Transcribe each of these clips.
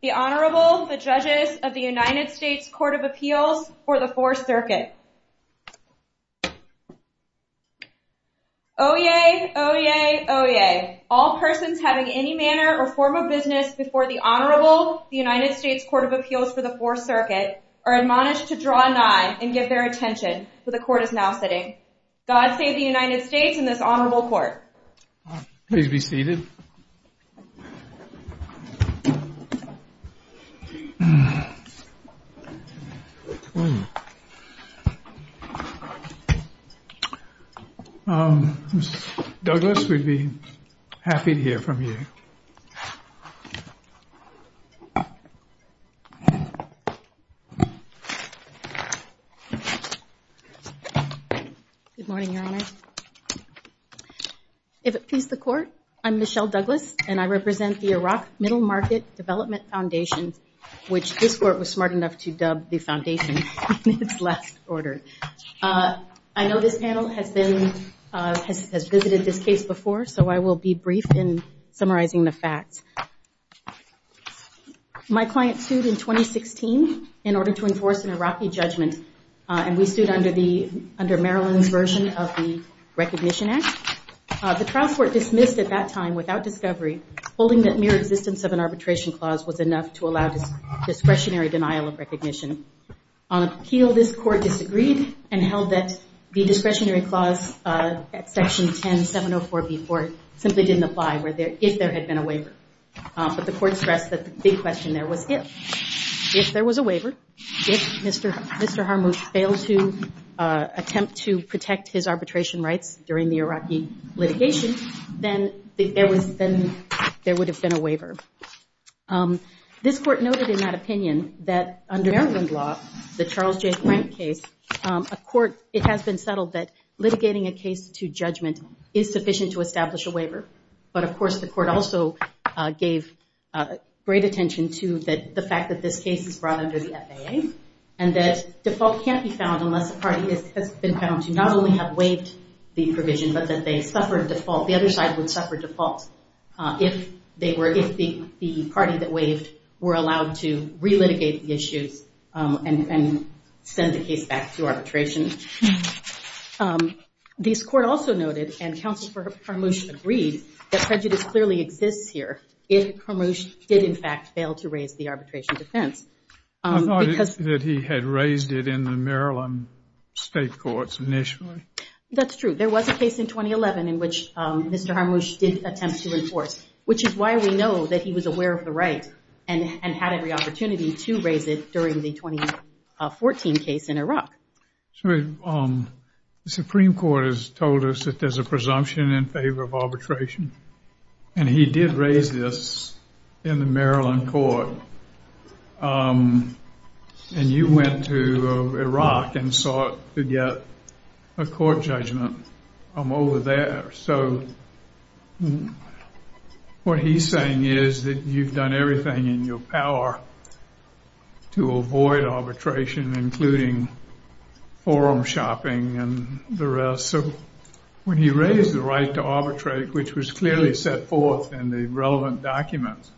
The Honorable, the Judges of the United States Court of Appeals for the 4th Circuit Oyez! Oyez! Oyez! All persons having any manner or form of business before the Honorable, the United States Court of Appeals for the 4th Circuit are admonished to draw a nine and give their attention, for the Court is now sitting. God save the United States and this Honorable Court. Please be seated. Mr. Douglas, we'd be happy to hear from you. Good morning, Your Honor. If it pleases the Court, I'm Michelle Douglas, and I represent the Iraq Middle Market Development Foundation, which this Court was smart enough to dub the Foundation in its last order. I know this panel has visited this case before, so I will be brief in summarizing the facts. My client sued in 2016 in order to enforce an Iraqi judgment, and we sued under Maryland's version of the Recognition Act. The trial court dismissed at that time, without discovery, holding that mere existence of an arbitration clause was enough to allow discretionary denial of recognition. On appeal, this Court disagreed and held that the discretionary clause at Section 10704b4 simply didn't apply if there had been a waiver. But the Court stressed that the big question there was if. If there was a waiver, if Mr. Harmouth failed to attempt to protect his arbitration rights during the Iraqi litigation, then there would have been a waiver. This Court noted in that opinion that under Maryland law, the Charles J. Grant case, it has been settled that litigating a case to judgment is sufficient to establish a waiver. But, of course, the Court also gave great attention to the fact that this case is brought under the FAA and that default can't be found unless the party has been found to not only have waived the provision, but that the other side would suffer default if the party that waived were allowed to relitigate the issues and send the case back to arbitration. This Court also noted, and Counsel for Harmouth agreed, that prejudice clearly exists here if Harmouth did, in fact, fail to raise the arbitration defense. I thought that he had raised it in the Maryland state courts initially. That's true. There was a case in 2011 in which Mr. Harmouth did attempt to enforce, which is why we know that he was aware of the right and had every opportunity to raise it during the 2014 case in Iraq. The Supreme Court has told us that there's a presumption in favor of arbitration, and he did raise this in the Maryland court. And you went to Iraq and sought to get a court judgment from over there. So what he's saying is that you've done everything in your power to avoid arbitration, including forum shopping and the rest. So when he raised the right to arbitrate, which was clearly set forth in the relevant documents,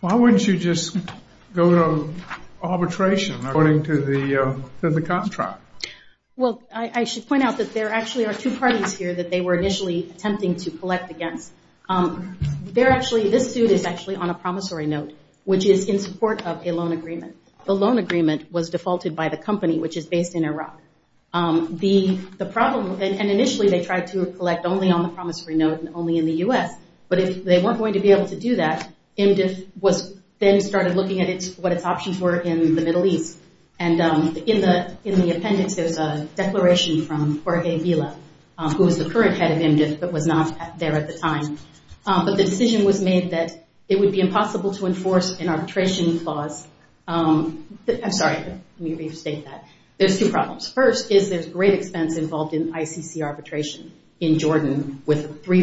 why wouldn't you just go to arbitration according to the contract? Well, I should point out that there actually are two parties here that they were initially attempting to collect against. This suit is actually on a promissory note, which is in support of a loan agreement. The loan agreement was defaulted by the company, which is based in Iraq. And initially they tried to collect only on the promissory note and only in the U.S., but they weren't going to be able to do that. IMDF then started looking at what its options were in the Middle East, and in the appendix there's a declaration from Jorge Vila, who was the current head of IMDF but was not there at the time. But the decision was made that it would be impossible to enforce an arbitration clause. I'm sorry, let me restate that. There's two problems. First is there's great expense involved in ICC arbitration in Jordan, with three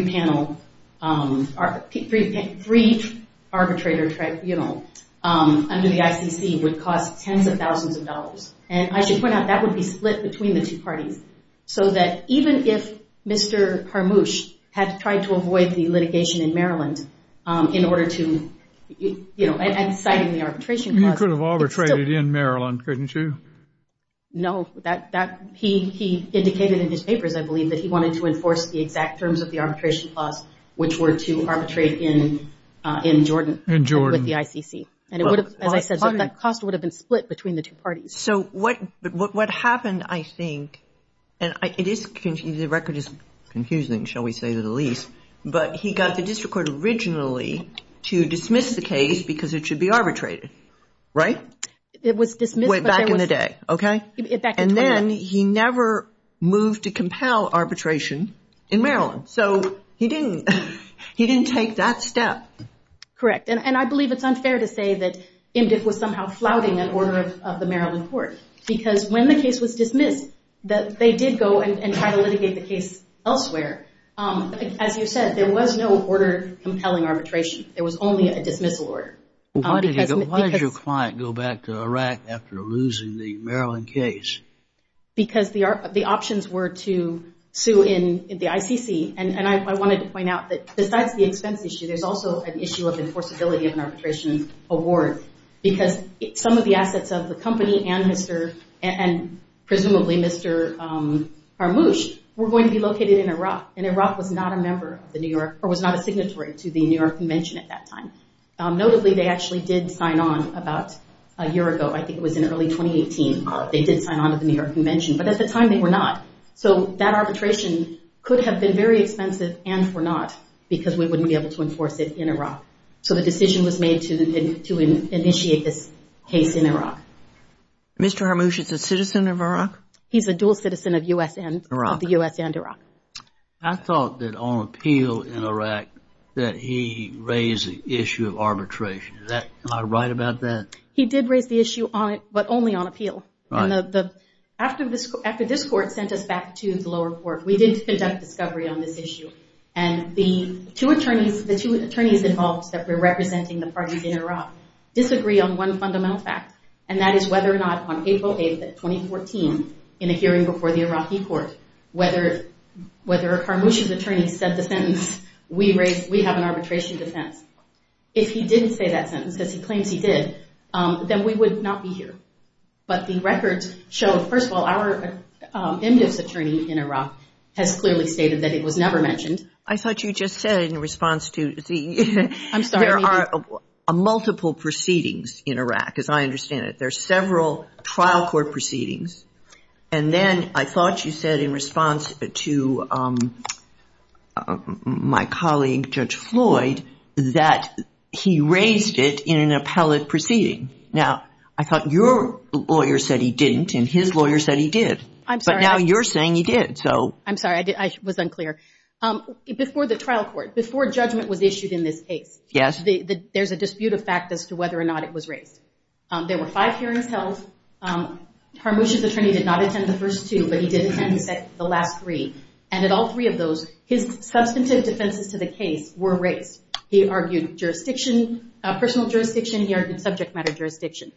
arbitrator tribunals under the ICC would cost tens of thousands of dollars. And I should point out that would be split between the two parties, so that even if Mr. Harmouche had tried to avoid the litigation in Maryland in order to, you know, citing the arbitration clause. You could have arbitrated in Maryland, couldn't you? No, he indicated in his papers, I believe, that he wanted to enforce the exact terms of the arbitration clause, which were to arbitrate in Jordan with the ICC. And as I said, that cost would have been split between the two parties. So what happened, I think, and the record is confusing, shall we say to the least, but he got the district court originally to dismiss the case because it should be arbitrated, right? It was dismissed. Back in the day, okay? And then he never moved to compel arbitration in Maryland. So he didn't take that step. Correct. And I believe it's unfair to say that IMDF was somehow flouting an order of the Maryland court because when the case was dismissed, they did go and try to litigate the case elsewhere. As you said, there was no order compelling arbitration. There was only a dismissal order. Why did your client go back to Iraq after losing the Maryland case? Because the options were to sue in the ICC, and I wanted to point out that besides the expense issue, there's also an issue of enforceability of an arbitration award because some of the assets of the company and presumably Mr. Harmouche were going to be located in Iraq, and Iraq was not a member of the New York or was not a signatory to the New York Convention at that time. Notably, they actually did sign on about a year ago. I think it was in early 2018. They did sign on to the New York Convention, but at the time they were not. So that arbitration could have been very expensive and for naught because we wouldn't be able to enforce it in Iraq. So the decision was made to initiate this case in Iraq. Mr. Harmouche is a citizen of Iraq? He's a dual citizen of U.S. and Iraq. I thought that on appeal in Iraq that he raised the issue of arbitration. Am I right about that? He did raise the issue, but only on appeal. After this court sent us back to the lower court, we did conduct discovery on this issue, and the two attorneys involved that were representing the parties in Iraq disagree on one fundamental fact, and that is whether or not on April 8, 2014, in a hearing before the Iraqi court, whether or not Harmouche's attorney said the sentence, we have an arbitration defense. If he didn't say that sentence, as he claims he did, then we would not be here. But the records show, first of all, our emdivs attorney in Iraq has clearly stated that it was never mentioned. I thought you just said in response to the… I'm sorry. There are multiple proceedings in Iraq, as I understand it. There are several trial court proceedings, and then I thought you said in response to my colleague, Judge Floyd, that he raised it in an appellate proceeding. Now, I thought your lawyer said he didn't, and his lawyer said he did. I'm sorry. But now you're saying he did. I'm sorry. I was unclear. Before the trial court, before judgment was issued in this case, there's a dispute of fact as to whether or not it was raised. There were five hearings held. Harmouche's attorney did not attend the first two, but he did attend the last three. And in all three of those, his substantive defenses to the case were raised. He argued jurisdiction, personal jurisdiction. He argued subject matter jurisdiction.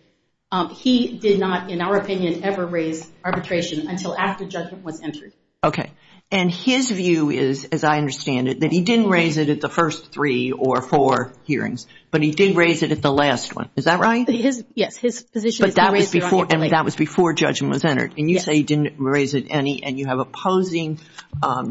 He did not, in our opinion, ever raise arbitration until after judgment was entered. Okay. And his view is, as I understand it, that he didn't raise it at the first three or four hearings, but he did raise it at the last one. Is that right? Yes. His position is he raised it on the appellate. But that was before judgment was entered. And you say he didn't raise it any, and you have opposing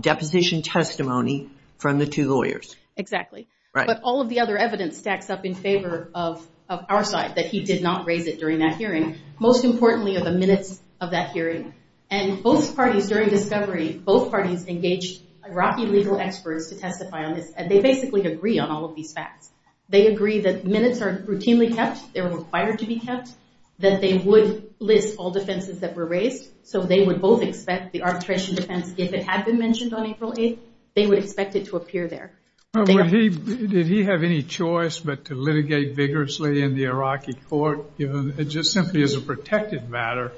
deposition testimony from the two lawyers. Exactly. But all of the other evidence stacks up in favor of our side, that he did not raise it during that hearing. Most importantly are the minutes of that hearing. And both parties during discovery, both parties engaged Iraqi legal experts to testify on this, and they basically agree on all of these facts. They agree that minutes are routinely kept, they're required to be kept, that they would list all defenses that were raised. So they would both expect the arbitration defense, if it had been mentioned on April 8th, they would expect it to appear there. Did he have any choice but to litigate vigorously in the Iraqi court, just simply as a protected matter,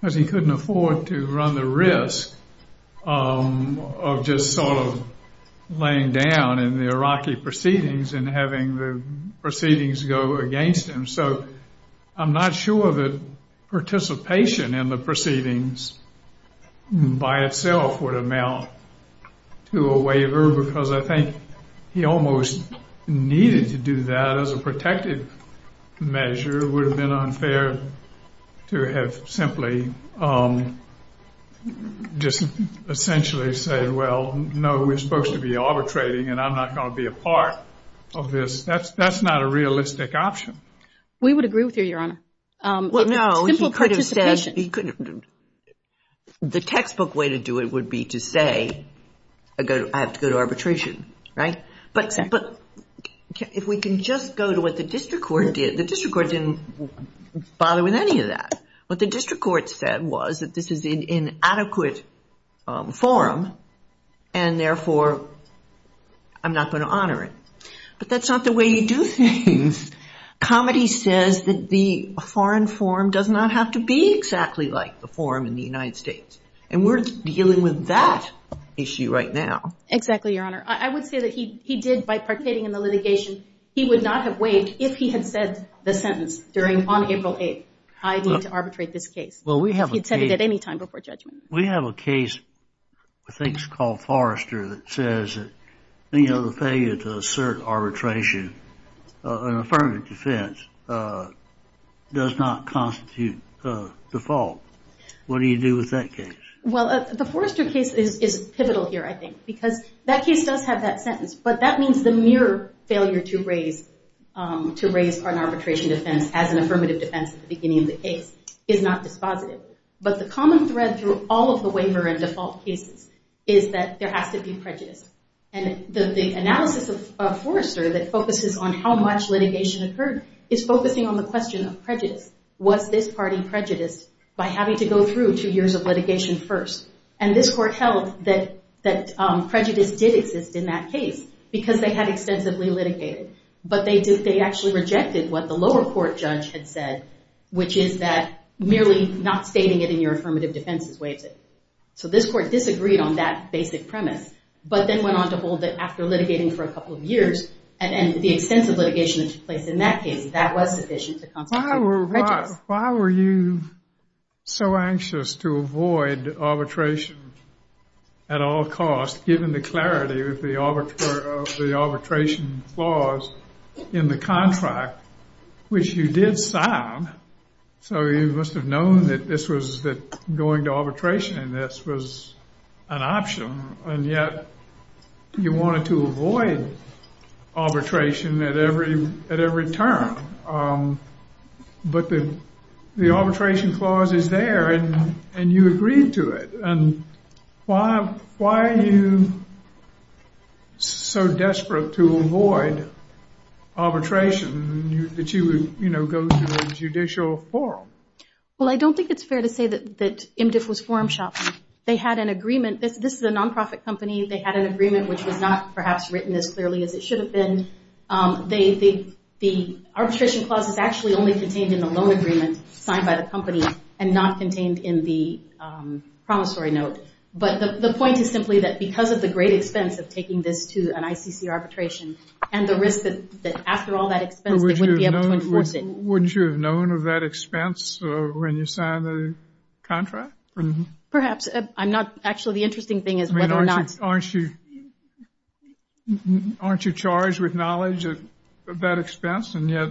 because he couldn't afford to run the risk of just sort of laying down in the Iraqi proceedings and having the proceedings go against him. So I'm not sure that participation in the proceedings by itself would amount to a waiver, because I think he almost needed to do that as a protected measure. It would have been unfair to have simply just essentially said, well, no, we're supposed to be arbitrating and I'm not going to be a part of this. That's not a realistic option. We would agree with you, Your Honor. Well, no, he could have said, the textbook way to do it would be to say, I have to go to arbitration, right? But if we can just go to what the district court did, the district court didn't bother with any of that. What the district court said was that this is an inadequate forum, and therefore I'm not going to honor it. But that's not the way you do things. Comity says that the foreign forum does not have to be exactly like the forum in the United States, and we're dealing with that issue right now. Exactly, Your Honor. I would say that he did, by participating in the litigation, he would not have waived if he had said the sentence on April 8th, I need to arbitrate this case. If he had said it at any time before judgment. We have a case, I think it's called Forrester, that says the failure to assert arbitration in affirmative defense does not constitute default. What do you do with that case? Well, the Forrester case is pivotal here, I think, because that case does have that sentence, but that means the mere failure to raise an arbitration defense as an affirmative defense at the beginning of the case is not dispositive. But the common thread through all of the waiver and default cases is that there has to be prejudice. And the analysis of Forrester that focuses on how much litigation occurred is focusing on the question of prejudice. Was this party prejudiced by having to go through two years of litigation first? And this court held that prejudice did exist in that case because they had extensively litigated. But they actually rejected what the lower court judge had said, which is that merely not stating it in your affirmative defense is waived. So this court disagreed on that basic premise, but then went on to hold that after litigating for a couple of years and the extensive litigation that took place in that case, that was sufficient to constitute prejudice. Why were you so anxious to avoid arbitration at all costs, given the clarity of the arbitration laws in the contract, which you did sign? So you must have known that going to arbitration in this was an option, and yet you wanted to avoid arbitration at every turn. But the arbitration clause is there, and you agreed to it. And why are you so desperate to avoid arbitration that you would go to a judicial forum? Well, I don't think it's fair to say that MDF was forum shopping. This is a non-profit company. They had an agreement which was not perhaps written as clearly as it should have been. The arbitration clause is actually only contained in the loan agreement signed by the company and not contained in the promissory note. But the point is simply that because of the great expense of taking this to an ICC arbitration and the risk that after all that expense they wouldn't be able to enforce it. Would you have known of that expense when you signed the contract? Perhaps. Actually, the interesting thing is whether or not... Aren't you charged with knowledge of that expense, and yet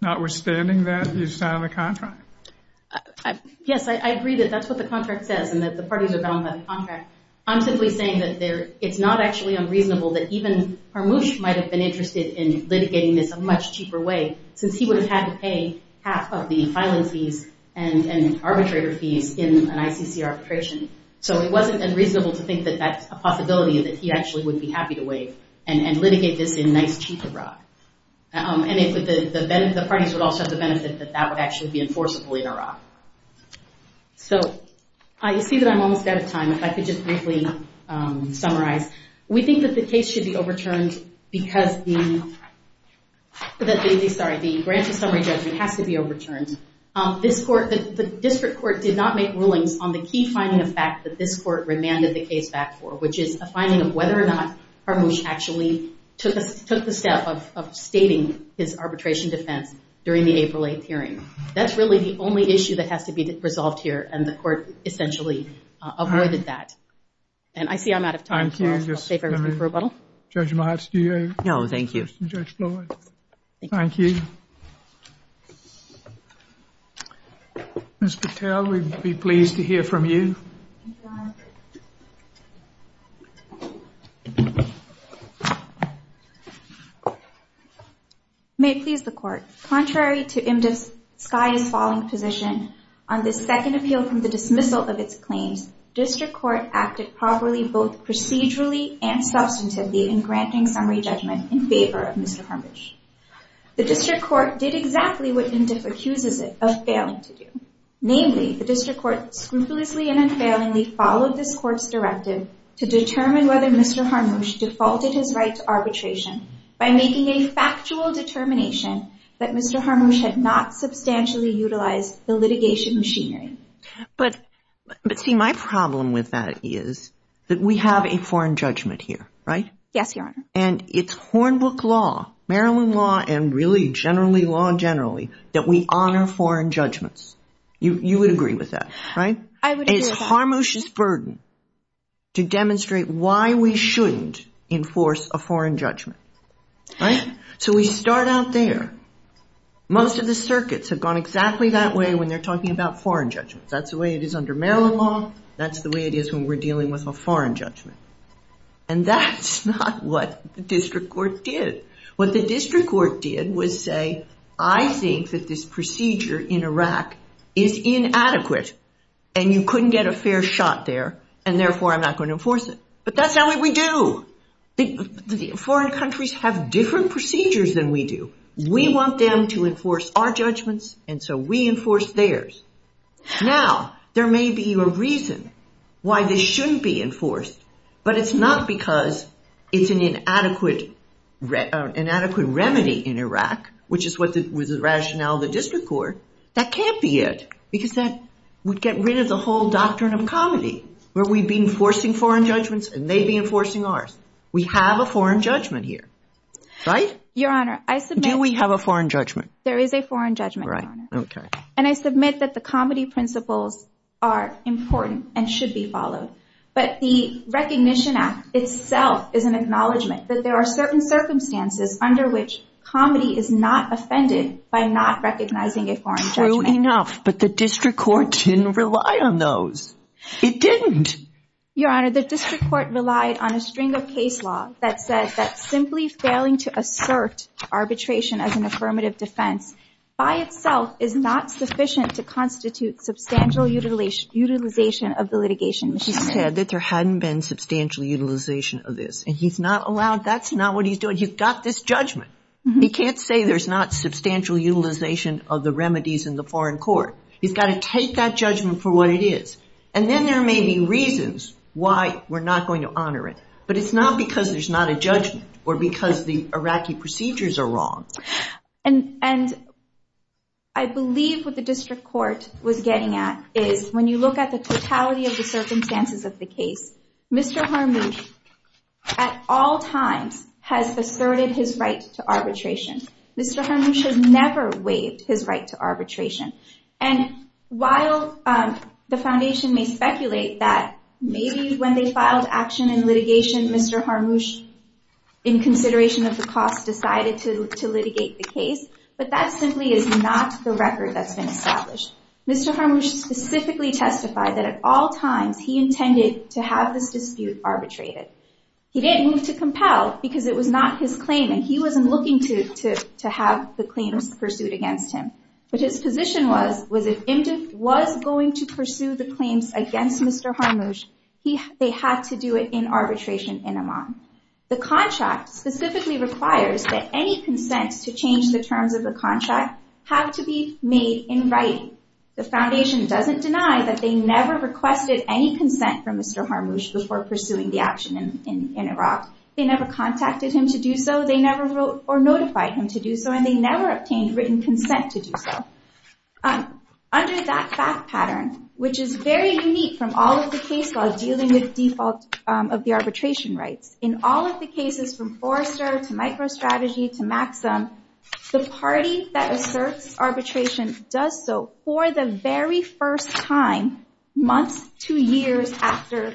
notwithstanding that you signed the contract? Yes, I agree that that's what the contract says and that the parties are bound by the contract. I'm simply saying that it's not actually unreasonable that even Parmush might have been interested in litigating this a much cheaper way since he would have had to pay half of the filing fees and arbitrator fees in an ICC arbitration. So it wasn't unreasonable to think that that's a possibility and that he actually would be happy to waive and litigate this in nice cheap Iraq. And the parties would also have the benefit that that would actually be enforceable in Iraq. So I see that I'm almost out of time. If I could just briefly summarize. We think that the case should be overturned because the grant to summary judgment has to be overturned. The district court did not make rulings on the key finding of fact that this court remanded the case back for, which is a finding of whether or not Parmush actually took the step of stating his arbitration defense during the April 8th hearing. That's really the only issue that has to be resolved here, and the court essentially avoided that. And I see I'm out of time, so I'll save everything for a bottle. Judge Mahatsky? No, thank you. Judge Floyd? Thank you. Thank you. Ms. Patel, we'd be pleased to hear from you. Thank you, Your Honor. May it please the Court. Contrary to M.S. Skye's falling position, on the second appeal from the dismissal of its claims, district court acted properly both procedurally and substantively in granting summary judgment in favor of Mr. Parmush. The district court did exactly what M.Diff accuses it of failing to do. Namely, the district court scrupulously and unfailingly followed this court's directive to determine whether Mr. Parmush defaulted his right to arbitration by making a factual determination that Mr. Parmush had not substantially utilized the litigation machinery. But, see, my problem with that is that we have a foreign judgment here, right? Yes, Your Honor. And it's Hornbook law, Maryland law, and really generally law generally, that we honor foreign judgments. You would agree with that, right? I would agree with that. And it's Parmush's burden to demonstrate why we shouldn't enforce a foreign judgment. Right? So we start out there. Most of the circuits have gone exactly that way when they're talking about foreign judgments. That's the way it is under Maryland law. That's the way it is when we're dealing with a foreign judgment. And that's not what the district court did. What the district court did was say, I think that this procedure in Iraq is inadequate, and you couldn't get a fair shot there, and therefore I'm not going to enforce it. But that's not what we do. Foreign countries have different procedures than we do. We want them to enforce our judgments, and so we enforce theirs. Now, there may be a reason why this shouldn't be enforced, but it's not because it's an inadequate remedy in Iraq, which is what was the rationale of the district court. That can't be it because that would get rid of the whole doctrine of comedy where we'd be enforcing foreign judgments and they'd be enforcing ours. We have a foreign judgment here. Right? Your Honor, I submit— Do we have a foreign judgment? There is a foreign judgment, Your Honor. Okay. And I submit that the comedy principles are important and should be followed. But the Recognition Act itself is an acknowledgment that there are certain circumstances under which comedy is not offended by not recognizing a foreign judgment. True enough, but the district court didn't rely on those. It didn't. Your Honor, the district court relied on a string of case law that says that simply failing to assert arbitration as an affirmative defense by itself is not sufficient to constitute substantial utilization of the litigation. He said that there hadn't been substantial utilization of this, and he's not allowed—that's not what he's doing. He's got this judgment. He can't say there's not substantial utilization of the remedies in the foreign court. He's got to take that judgment for what it is. And then there may be reasons why we're not going to honor it, but it's not because there's not a judgment or because the Iraqi procedures are wrong. And I believe what the district court was getting at is when you look at the totality of the circumstances of the case, Mr. Harmouche at all times has asserted his right to arbitration. Mr. Harmouche has never waived his right to arbitration. And while the Foundation may speculate that maybe when they filed action in litigation, Mr. Harmouche, in consideration of the cost, decided to litigate the case, but that simply is not the record that's been established. Mr. Harmouche specifically testified that at all times he intended to have this dispute arbitrated. He didn't move to compel because it was not his claim, and he wasn't looking to have the claims pursued against him. But his position was if IMDb was going to pursue the claims against Mr. Harmouche, they had to do it in arbitration in Amman. The contract specifically requires that any consents to change the terms of the contract have to be made in writing. The Foundation doesn't deny that they never requested any consent from Mr. Harmouche before pursuing the action in Iraq. They never contacted him to do so. They never wrote or notified him to do so, and they never obtained written consent to do so. Under that fact pattern, which is very unique from all of the case laws dealing with default of the arbitration rights, in all of the cases from Forrester to MicroStrategy to Maxim, the party that asserts arbitration does so for the very first time months to years after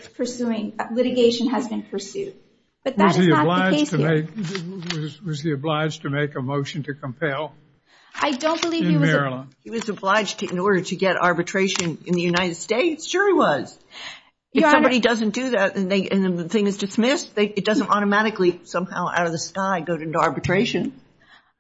litigation has been pursued. But that is not the case here. Was he obliged to make a motion to compel? I don't believe he was obliged in order to get arbitration in the United States. Sure he was. If somebody doesn't do that and the thing is dismissed, it doesn't automatically somehow out of the sky go into arbitration.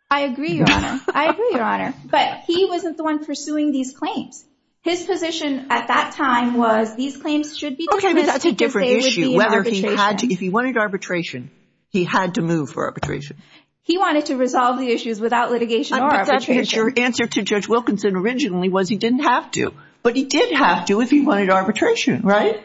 I agree, Your Honor. I agree, Your Honor. But he wasn't the one pursuing these claims. His position at that time was these claims should be dismissed because they would be in arbitration. Okay, but that's a different issue. If he wanted arbitration, he had to move for arbitration. He wanted to resolve the issues without litigation or arbitration. Your answer to Judge Wilkinson originally was he didn't have to, but he did have to if he wanted arbitration, right?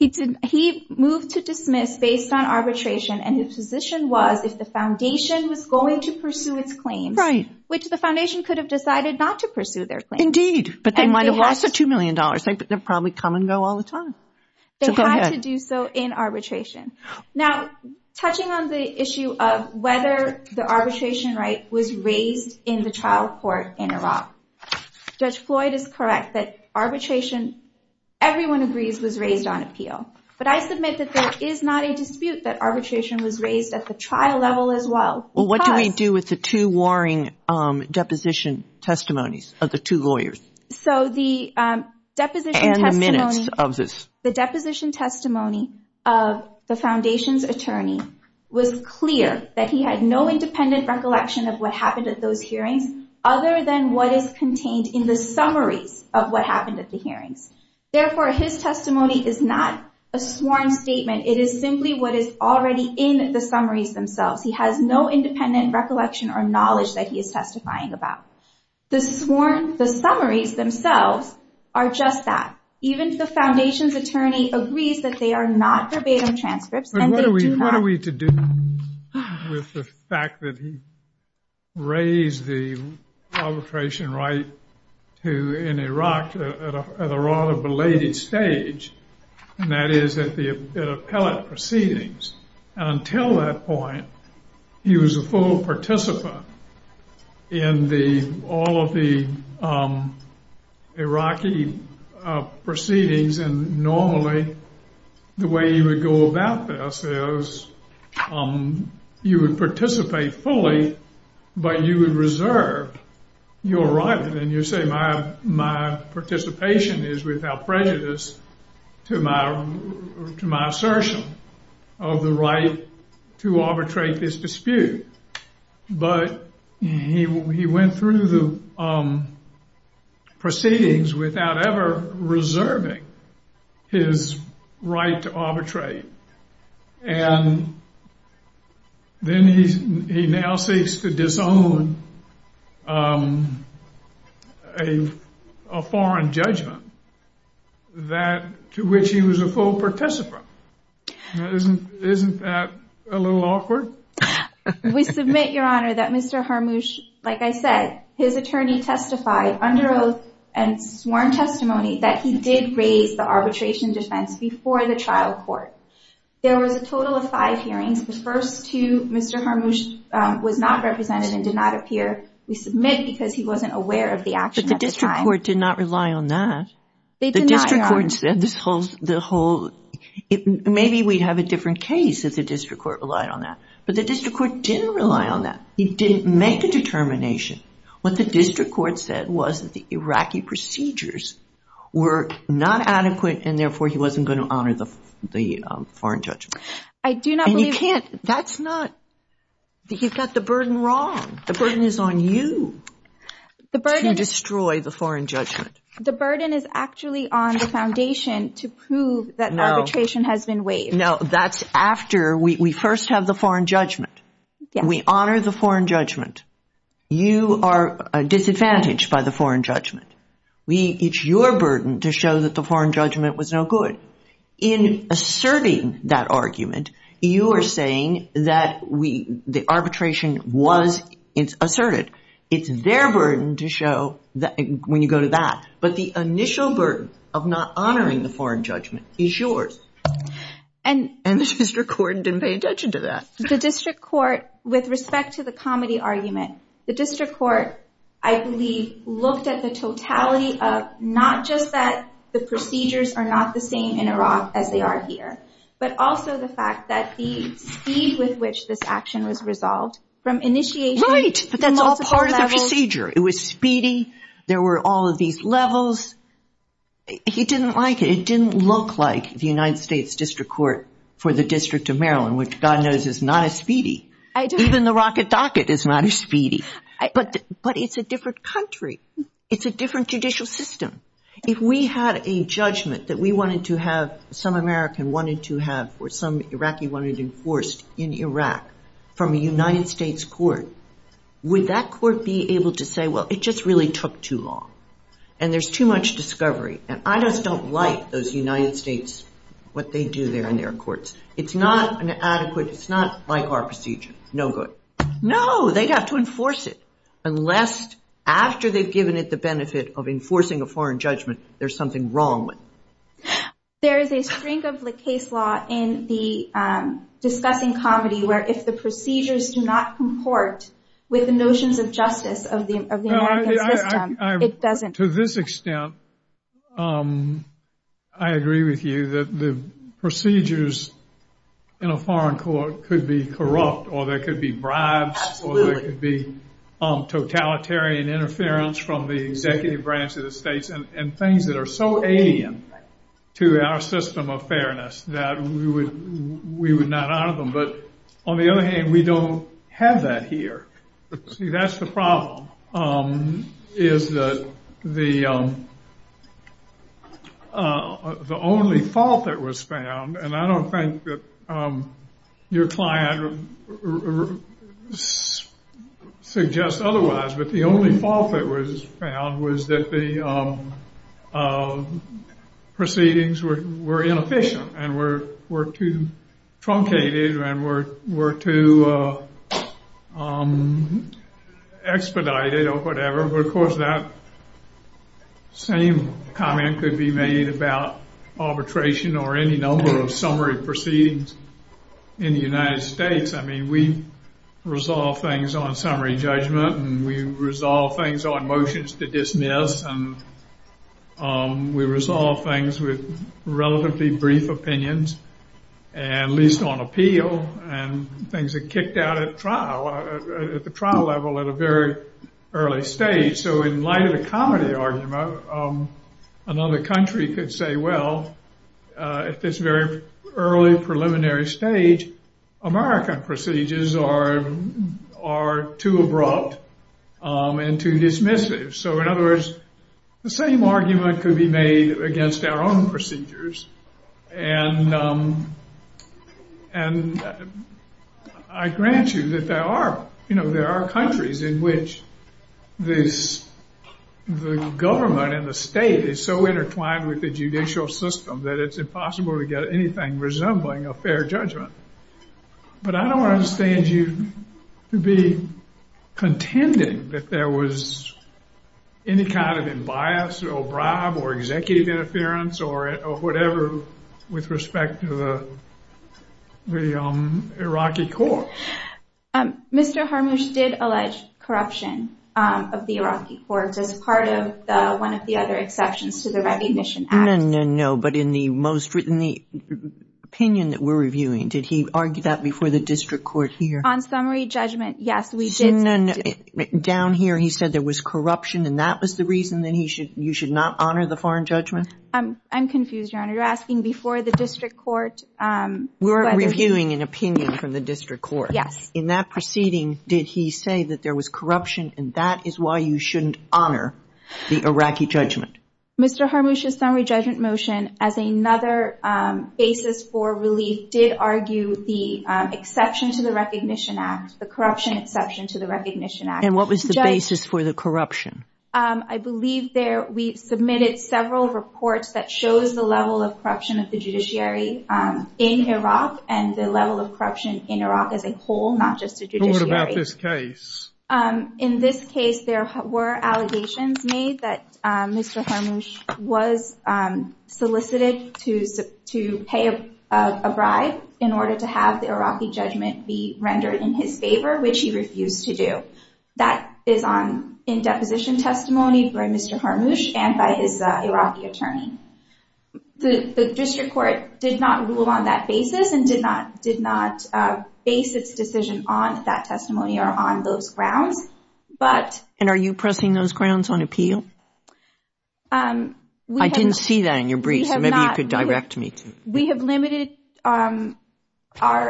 He moved to dismiss based on arbitration, and his position was if the foundation was going to pursue its claims, which the foundation could have decided not to pursue their claims. Indeed, but they might have lost the $2 million. They'd probably come and go all the time. They had to do so in arbitration. Now, touching on the issue of whether the arbitration right was raised in the trial court in Iraq, Judge Floyd is correct that arbitration, everyone agrees, was raised on appeal. But I submit that there is not a dispute that arbitration was raised at the trial level as well. Well, what do we do with the two warring deposition testimonies of the two lawyers? So the deposition testimony. And the minutes of this. The deposition testimony of the foundation's attorney was clear that he had no independent recollection of what happened at those hearings, other than what is contained in the summaries of what happened at the hearings. Therefore, his testimony is not a sworn statement. It is simply what is already in the summaries themselves. He has no independent recollection or knowledge that he is testifying about. The summaries themselves are just that. Even if the foundation's attorney agrees that they are not verbatim transcripts, and they do not. But what are we to do with the fact that he raised the arbitration right in Iraq at a rather belated stage, and that is at the appellate proceedings. And until that point, he was a full participant in all of the Iraqi proceedings. And normally, the way you would go about this is you would participate fully, but you would reserve your right. And you say my participation is without prejudice to my assertion of the right to arbitrate this dispute. But he went through the proceedings without ever reserving his right to arbitrate. And then he now seeks to disown a foreign judgment to which he was a full participant. Isn't that a little awkward? We submit, Your Honor, that Mr. Harmouche, like I said, his attorney testified under oath and sworn testimony that he did raise the arbitration defense before the trial court. There was a total of five hearings. The first two, Mr. Harmouche was not represented and did not appear. We submit because he wasn't aware of the action at the time. But the district court did not rely on that. They did not, Your Honor. Maybe we'd have a different case if the district court relied on that. But the district court didn't rely on that. He didn't make a determination. What the district court said was that the Iraqi procedures were not adequate, and therefore he wasn't going to honor the foreign judgment. And you can't. That's not. You've got the burden wrong. The burden is on you to destroy the foreign judgment. The burden is actually on the foundation to prove that arbitration has been waived. No, that's after we first have the foreign judgment. We honor the foreign judgment. You are disadvantaged by the foreign judgment. It's your burden to show that the foreign judgment was no good. In asserting that argument, you are saying that the arbitration was asserted. It's their burden to show when you go to that. But the initial burden of not honoring the foreign judgment is yours. And the district court didn't pay attention to that. The district court, with respect to the comedy argument, the district court I believe looked at the totality of not just that the procedures are not the same in Iraq as they are here, but also the fact that the speed with which this action was resolved from initiation. Right, but that's all part of the procedure. It was speedy. There were all of these levels. He didn't like it. It didn't look like the United States district court for the District of Maryland, which God knows is not as speedy. Even the rocket docket is not as speedy. But it's a different country. It's a different judicial system. If we had a judgment that we wanted to have, some American wanted to have or some Iraqi wanted enforced in Iraq from a United States court, would that court be able to say, well, it just really took too long and there's too much discovery and I just don't like those United States, what they do there in their courts. It's not an adequate, it's not like our procedure. No good. No, they'd have to enforce it. Unless after they've given it the benefit of enforcing a foreign judgment, there's something wrong with it. There is a string of the case law in the discussing comedy where if the procedures do not comport with the notions of justice of the American system, it doesn't. To this extent, I agree with you that the procedures in a foreign court could be corrupt or there could be bribes or there could be totalitarian interference from the executive branch of the states and things that are so alien to our system of fairness that we would not honor them. But on the other hand, we don't have that here. See, that's the problem, is that the only fault that was found, and I don't think that your client suggests otherwise, but the only fault that was found was that the proceedings were inefficient and were too truncated and were too expedited or whatever, but of course that same comment could be made about arbitration or any number of summary proceedings in the United States. I mean, we resolve things on summary judgment and we resolve things on motions to dismiss and we resolve things with relatively brief opinions, at least on appeal, and things are kicked out at trial, at the trial level at a very early stage. So in light of the comedy argument, another country could say, well, at this very early preliminary stage, American procedures are too abrupt and too dismissive. So in other words, the same argument could be made against our own procedures, and I grant you that there are countries in which the government and the state is so intertwined with the judicial system that it's impossible to get anything resembling a fair judgment, but I don't understand you to be contending that there was any kind of imbias or bribe or executive interference or whatever with respect to the Iraqi court. Mr. Harmusch did allege corruption of the Iraqi courts as part of one of the other exceptions to the Recognition Act. No, but in the opinion that we're reviewing, did he argue that before the district court here? On summary judgment, yes, we did. No, no, no. Down here he said there was corruption and that was the reason that you should not honor the foreign judgment? I'm confused, Your Honor. You're asking before the district court. We're reviewing an opinion from the district court. Yes. In that proceeding, did he say that there was corruption and that is why you shouldn't honor the Iraqi judgment? Mr. Harmusch's summary judgment motion as another basis for relief did argue the exception to the Recognition Act, the corruption exception to the Recognition Act. And what was the basis for the corruption? I believe there we submitted several reports that shows the level of corruption of the judiciary in Iraq and the level of corruption in Iraq as a whole, not just a judiciary. What about this case? In this case, there were allegations made that Mr. Harmusch was solicited to pay a bribe in order to have the Iraqi judgment be rendered in his favor, which he refused to do. That is in deposition testimony by Mr. Harmusch and by his Iraqi attorney. The district court did not rule on that basis and did not base its decision on that testimony or on those grounds. And are you pressing those grounds on appeal? I didn't see that in your brief, so maybe you could direct me to it. We have limited our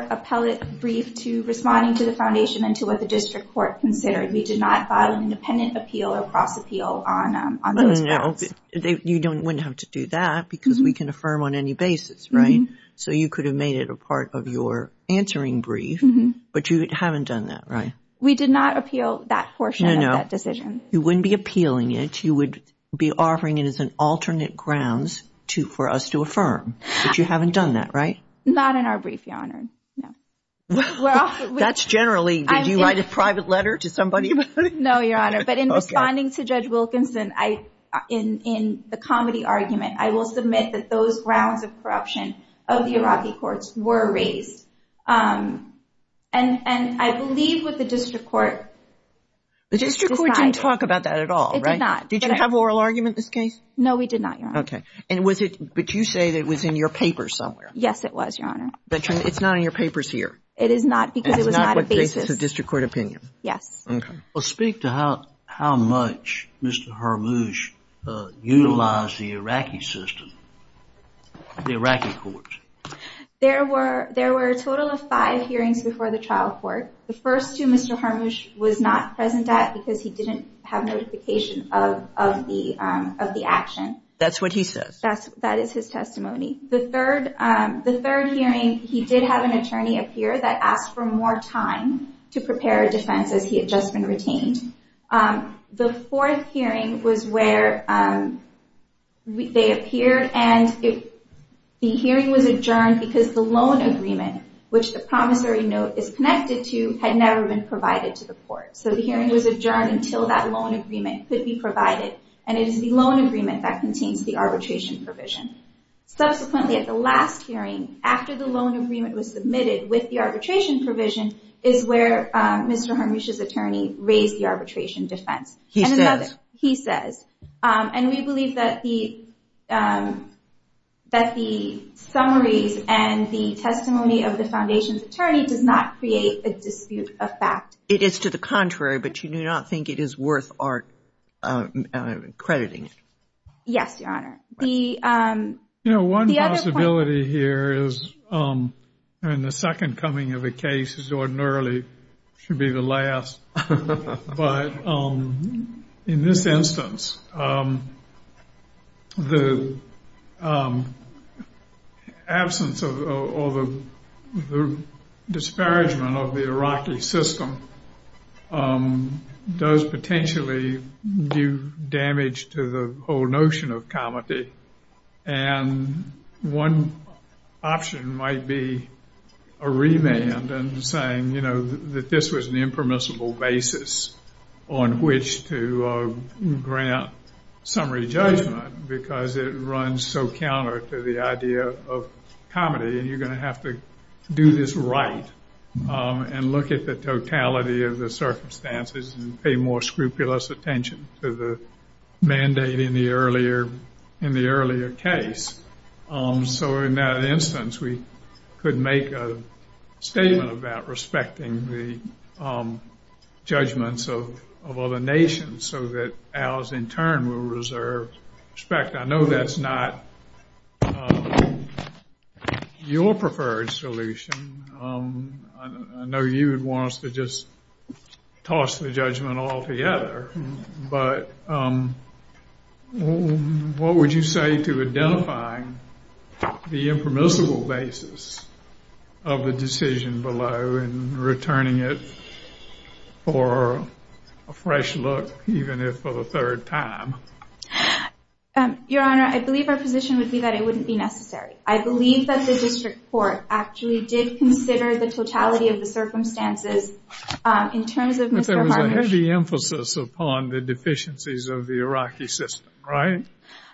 appellate brief to responding to the foundation and to what the district court considered. You wouldn't have to do that because we can affirm on any basis, right? So you could have made it a part of your answering brief, but you haven't done that, right? We did not appeal that portion of that decision. You wouldn't be appealing it. You would be offering it as an alternate grounds for us to affirm. But you haven't done that, right? Not in our brief, Your Honor. That's generally, did you write a private letter to somebody? No, Your Honor. But in responding to Judge Wilkinson, in the comedy argument, I will submit that those grounds of corruption of the Iraqi courts were raised. And I believe what the district court decided. The district court didn't talk about that at all, right? It did not. Did you have an oral argument in this case? No, we did not, Your Honor. Okay. And was it, but you say that it was in your papers somewhere. Yes, it was, Your Honor. It's not in your papers here? It is not because it was not a basis. It's not what raises the district court opinion? Yes. Okay. Well, speak to how much Mr. Hormuzh utilized the Iraqi system, the Iraqi courts. There were a total of five hearings before the trial court. The first two, Mr. Hormuzh was not present at because he didn't have notification of the action. That's what he says. That is his testimony. The third hearing, he did have an attorney appear that asked for more time to prepare a defense as he had just been retained. The fourth hearing was where they appeared, and the hearing was adjourned because the loan agreement, which the promissory note is connected to, had never been provided to the court. So the hearing was adjourned until that loan agreement could be provided, and it is the loan agreement that contains the arbitration provision. Subsequently, at the last hearing, after the loan agreement was submitted with the arbitration provision, is where Mr. Hormuzh's attorney raised the arbitration defense. He says? He says. And we believe that the summaries and the testimony of the foundation's attorney does not create a dispute of fact. It is to the contrary, but you do not think it is worth our crediting? Yes, Your Honor. You know, one possibility here is, and the second coming of the case is ordinarily should be the last, but in this instance, the absence or the disparagement of the Iraqi system does potentially do damage to the whole notion of comedy, and one option might be a remand and saying, you know, that this was an impermissible basis on which to grant summary judgment because it runs so counter to the idea of comedy, and you're going to have to do this right and look at the totality of the circumstances and pay more scrupulous attention to the mandate in the earlier case. So in that instance, we could make a statement about respecting the judgments of other nations so that ours in turn will reserve respect. I know that's not your preferred solution. I know you would want us to just toss the judgment altogether, but what would you say to identifying the impermissible basis of the decision below and returning it for a fresh look, even if for the third time? Your Honor, I believe our position would be that it wouldn't be necessary. I believe that the district court actually did consider the totality of the circumstances in terms of Mr. Varnish. But there was a heavy emphasis upon the deficiencies of the Iraqi system, right?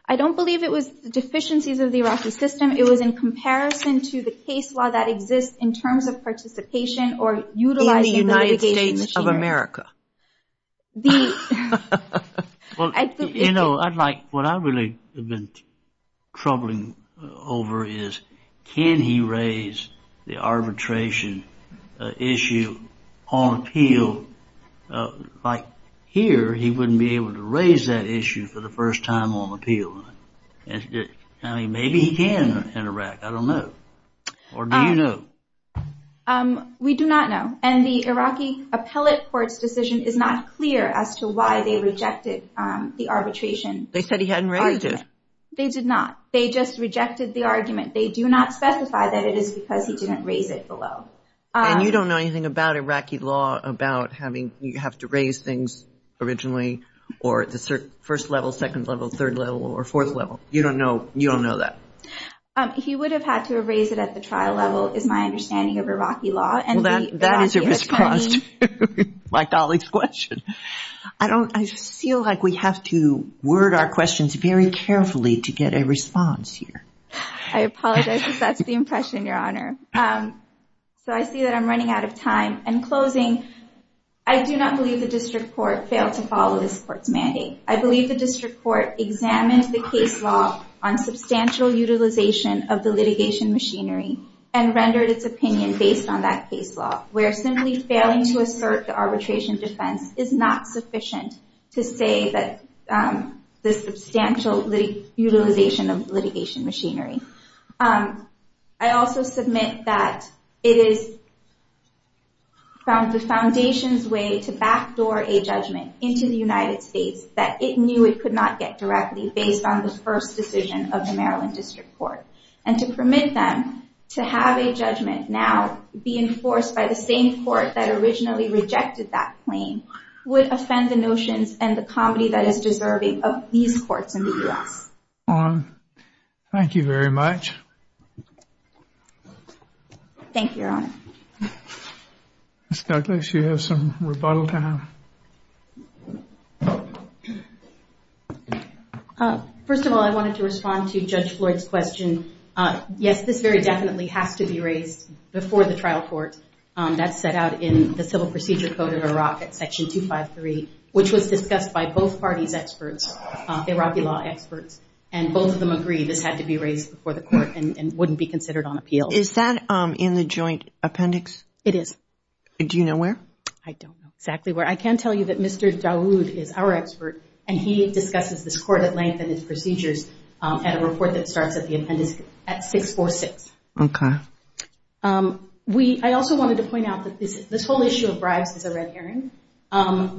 I don't believe it was deficiencies of the Iraqi system. It was in comparison to the case law that exists in terms of participation or utilizing the litigation machinery. In the United States of America. You know, what I really have been troubling over is, can he raise the arbitration issue on appeal? Like here, he wouldn't be able to raise that issue for the first time on appeal. I mean, maybe he can in Iraq, I don't know. Or do you know? We do not know. And the Iraqi appellate court's decision is not clear as to why they rejected the arbitration. They said he hadn't raised it. They did not. They just rejected the argument. They do not specify that it is because he didn't raise it below. And you don't know anything about Iraqi law about having to raise things originally, or the first level, second level, third level, or fourth level. You don't know that. He would have had to have raised it at the trial level, is my understanding of Iraqi law. Well, that is a mispronunciation of my colleague's question. I feel like we have to word our questions very carefully to get a response here. I apologize if that's the impression, Your Honor. So I see that I'm running out of time. In closing, I do not believe the district court failed to follow this court's mandate. I believe the district court examined the case law on substantial utilization of the litigation machinery and rendered its opinion based on that case law, where simply failing to assert the arbitration defense is not sufficient to say that there's substantial utilization of litigation machinery. I also submit that it is the foundation's way to backdoor a judgment into the United States that it knew it could not get directly based on the first decision of the Maryland district court. And to permit them to have a judgment now be enforced by the same court that originally rejected that claim would offend the notions and the comedy that is deserving of these courts in the U.S. Thank you very much. Thank you, Your Honor. Ms. Douglas, you have some rebuttal time. First of all, I wanted to respond to Judge Floyd's question. Yes, this very definitely has to be raised before the trial court. That's set out in the Civil Procedure Code of Iraq at Section 253, which was discussed by both parties' experts, Iraqi law experts, and both of them agree this had to be raised before the court and wouldn't be considered on appeal. Is that in the joint appendix? It is. Do you know where? I don't know exactly where. I can tell you that Mr. Dawood is our expert, and he discusses this court at length and its procedures at a report that starts at the appendix at 646. Okay. I also wanted to point out that this whole issue of bribes is a red herring.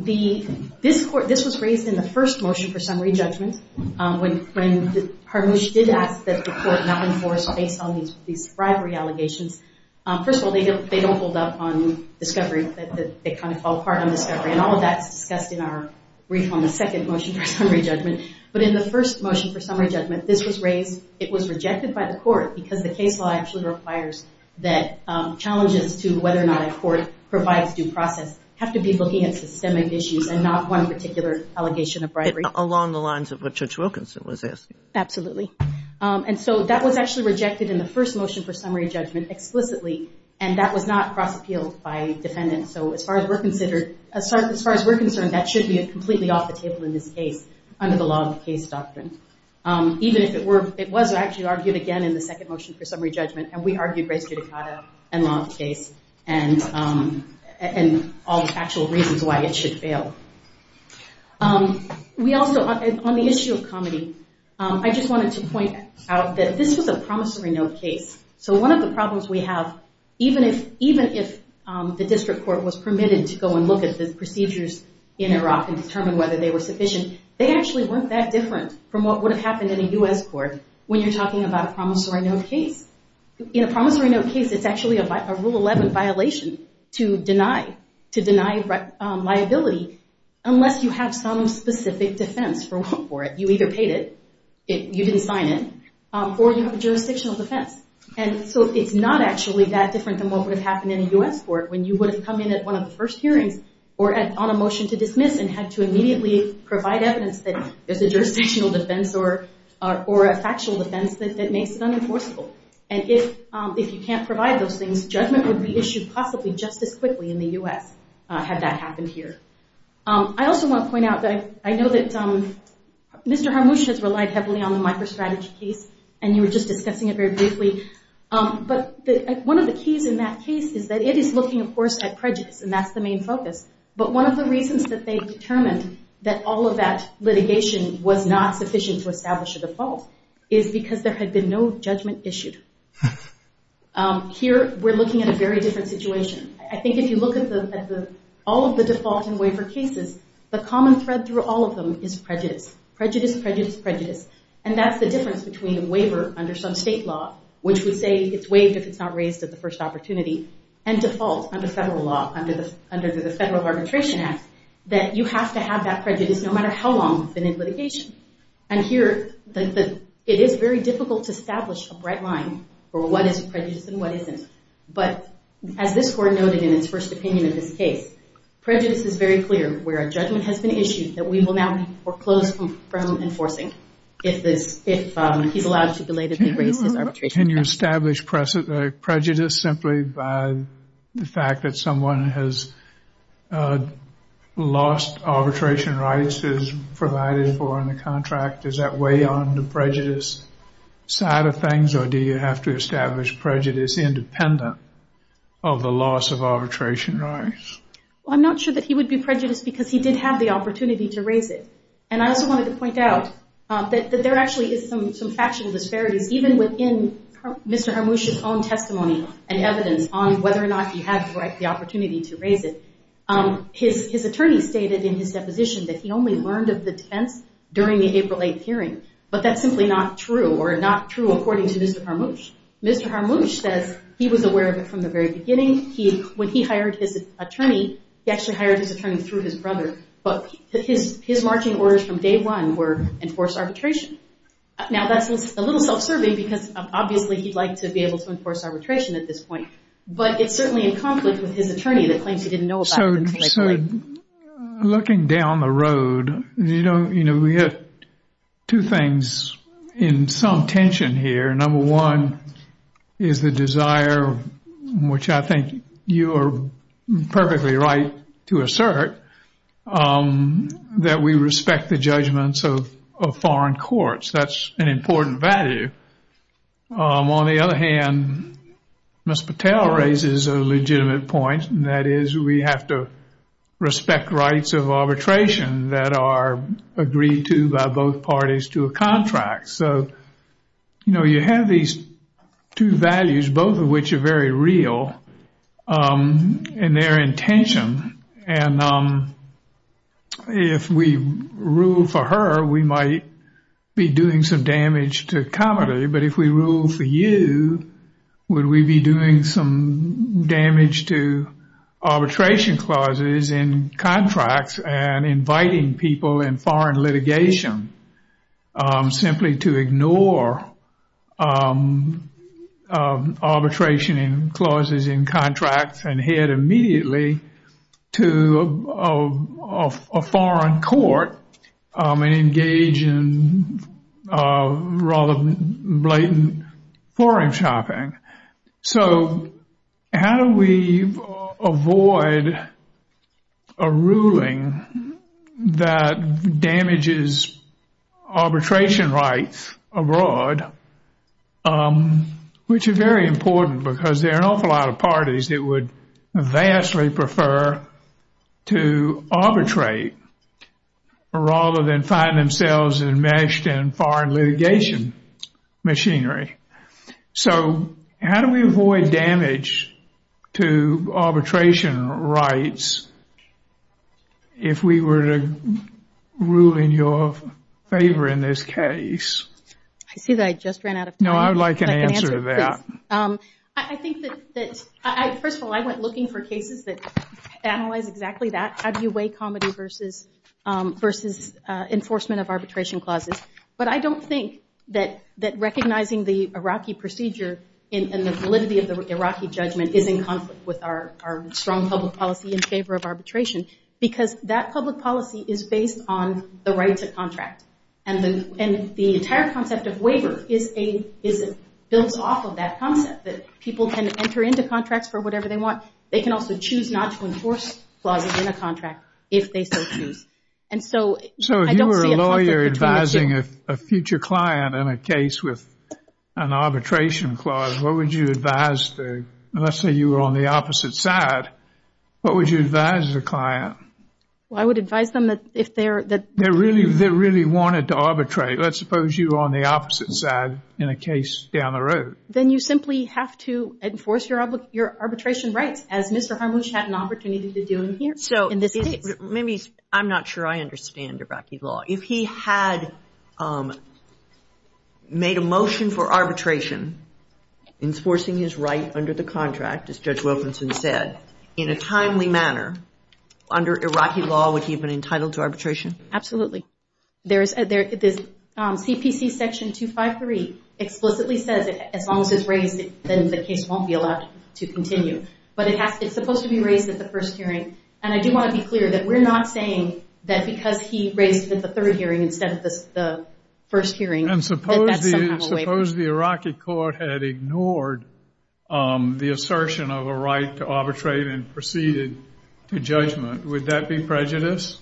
This was raised in the first motion for summary judgment. When Harmouche did ask that the court not enforce based on these bribery allegations, first of all, they don't hold up on discovery. They kind of fall apart on discovery, and all of that is discussed in our brief on the second motion for summary judgment. But in the first motion for summary judgment, this was raised. It was rejected by the court because the case law actually requires that challenges to whether or not a court provides due process have to be looking at systemic issues and not one particular allegation of bribery. Along the lines of what Judge Wilkinson was asking. Absolutely. And so that was actually rejected in the first motion for summary judgment explicitly, and that was not cross-appealed by defendants. So as far as we're concerned, that should be completely off the table in this case under the law of the case doctrine. Even if it were, it was actually argued again in the second motion for summary judgment, and we argued race judicata and law of the case and all the factual reasons why it should fail. We also, on the issue of comedy, I just wanted to point out that this was a promissory note case. So one of the problems we have, even if the district court was permitted to go and look at the procedures in Iraq and determine whether they were sufficient, they actually weren't that different from what would have happened in a U.S. court when you're talking about a promissory note case. In a promissory note case, it's actually a Rule 11 violation to deny liability unless you have some specific defense for it. You either paid it, you didn't sign it, or you have a jurisdictional defense. And so it's not actually that different than what would have happened in a U.S. court when you would have come in at one of the first hearings or on a motion to dismiss and had to immediately provide evidence that there's a jurisdictional defense or a factual defense that makes it unenforceable. And if you can't provide those things, judgment would be issued possibly just as quickly in the U.S. had that happened here. I also want to point out that I know that Mr. Harmouche has relied heavily on the microstrategy case, and you were just discussing it very briefly. But one of the keys in that case is that it is looking, of course, at prejudice, and that's the main focus. But one of the reasons that they determined that all of that litigation was not sufficient to establish a default is because there had been no judgment issued. Here we're looking at a very different situation. I think if you look at all of the default and waiver cases, the common thread through all of them is prejudice. Prejudice, prejudice, prejudice. And that's the difference between a waiver under some state law, which would say it's waived if it's not raised at the first opportunity, and default under federal law, under the Federal Arbitration Act, that you have to have that prejudice no matter how long you've been in litigation. And here it is very difficult to establish a bright line for what is prejudice and what isn't. But as this Court noted in its first opinion of this case, prejudice is very clear where a judgment has been issued that we will now be foreclosed from enforcing if he's allowed to belatedly raise his arbitration. Can you establish prejudice simply by the fact that someone has lost arbitration rights who's provided for in the contract? Does that weigh on the prejudice side of things, or do you have to establish prejudice independent of the loss of arbitration rights? I'm not sure that he would be prejudiced because he did have the opportunity to raise it. And I also wanted to point out that there actually is some factual disparities even within Mr. Harmouche's own testimony and evidence on whether or not he had the opportunity to raise it. His attorney stated in his deposition that he only learned of the defense during the April 8th hearing, but that's simply not true, or not true according to Mr. Harmouche. Mr. Harmouche says he was aware of it from the very beginning. When he hired his attorney, he actually hired his attorney through his brother, but his marching orders from day one were enforce arbitration. Now that's a little self-serving because obviously he'd like to be able to enforce arbitration at this point, but it's certainly in conflict with his attorney that claims he didn't know about it. So looking down the road, we have two things in some tension here. Number one is the desire, which I think you are perfectly right to assert, that we respect the judgments of foreign courts. That's an important value. On the other hand, Ms. Patel raises a legitimate point, and that is we have to respect rights of arbitration that are agreed to by both parties to a contract. So, you know, you have these two values, both of which are very real in their intention, and if we rule for her, we might be doing some damage to comedy, but if we rule for you, would we be doing some damage to arbitration clauses in contracts and inviting people in foreign litigation simply to ignore arbitration clauses in contracts and head immediately to a foreign court and engage in rather blatant foreign shopping? So how do we avoid a ruling that damages arbitration rights abroad, which are very important because there are an awful lot of parties that would vastly prefer to arbitrate rather than find themselves enmeshed in foreign litigation machinery. So how do we avoid damage to arbitration rights if we were to rule in your favor in this case? I see that I just ran out of time. No, I would like an answer to that. I think that, first of all, I went looking for cases that analyze exactly that, how do you weigh comedy versus enforcement of arbitration clauses. But I don't think that recognizing the Iraqi procedure and the validity of the Iraqi judgment is in conflict with our strong public policy in favor of arbitration because that public policy is based on the right to contract. And the entire concept of waiver builds off of that concept, that people can enter into contracts for whatever they want. They can also choose not to enforce clauses in a contract if they so choose. So if you were a lawyer advising a future client in a case with an arbitration clause, let's say you were on the opposite side, what would you advise the client? Well, I would advise them that if they're- They really wanted to arbitrate. Let's suppose you were on the opposite side in a case down the road. Then you simply have to enforce your arbitration rights, as Mr. Harmusch had an opportunity to do in this case. So maybe I'm not sure I understand Iraqi law. If he had made a motion for arbitration, enforcing his right under the contract, as Judge Wilkinson said, in a timely manner, under Iraqi law, would he have been entitled to arbitration? Absolutely. There's CPC section 253 explicitly says that as long as it's raised, then the case won't be allowed to continue. But it's supposed to be raised at the first hearing. And I do want to be clear that we're not saying that because he raised it at the third hearing instead of the first hearing that that's somehow a waiver. And suppose the Iraqi court had ignored the assertion of a right to arbitrate and proceeded to judgment. Would that be prejudice?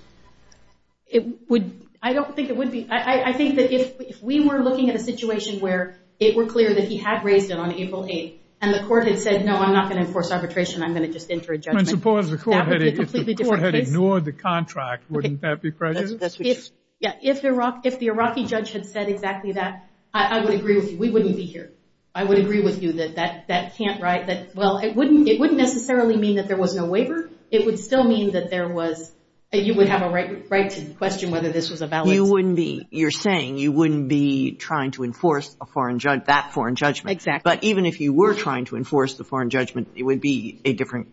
I don't think it would be. I think that if we were looking at a situation where it were clear that he had raised it on April 8th and the court had said, no, I'm not going to enforce arbitration, I'm going to just enter a judgment, that would be a completely different case. If the court had ignored the contract, wouldn't that be prejudice? If the Iraqi judge had said exactly that, I would agree with you. We wouldn't be here. I would agree with you that that can't, right, that, well, it wouldn't necessarily mean that there was no waiver. It would still mean that there was, you would have a right to question whether this was a valid. You wouldn't be. You're saying you wouldn't be trying to enforce that foreign judgment. Exactly. But even if you were trying to enforce the foreign judgment, it would be a different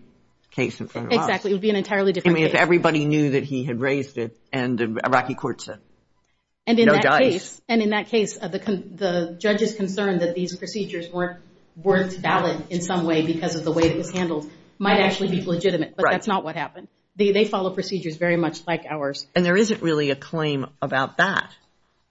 case in front of us. Exactly. It would be an entirely different case. I mean, if everybody knew that he had raised it and the Iraqi court said, no dice. And in that case, the judge's concern that these procedures weren't valid in some way because of the way it was handled might actually be legitimate, but that's not what happened. They follow procedures very much like ours. And there isn't really a claim about that.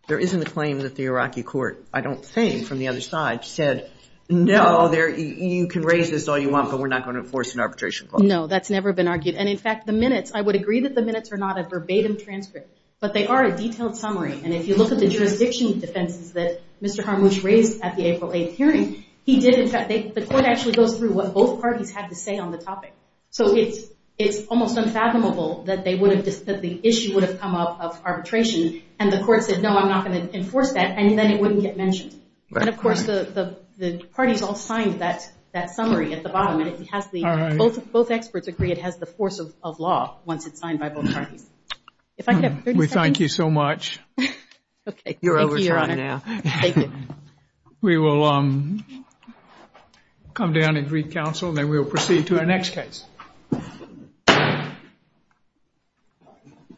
There isn't a claim that the Iraqi court, I don't think, from the other side, said, no, you can raise this all you want, but we're not going to enforce an arbitration clause. No, that's never been argued. And, in fact, the minutes, I would agree that the minutes are not a verbatim transcript, but they are a detailed summary. And if you look at the jurisdiction defenses that Mr. Harmouche raised at the April 8th hearing, he did in fact, the court actually goes through what both parties had to say on the topic. So it's almost unfathomable that the issue would have come up of arbitration, and the court said, no, I'm not going to enforce that, and then it wouldn't get mentioned. And, of course, the parties all signed that summary at the bottom, and both experts agree it has the force of law once it's signed by both parties. If I could have 30 seconds. We thank you so much. You're over time now. Thank you, Your Honor. Thank you. We will come down and read counsel, and then we will proceed to our next case.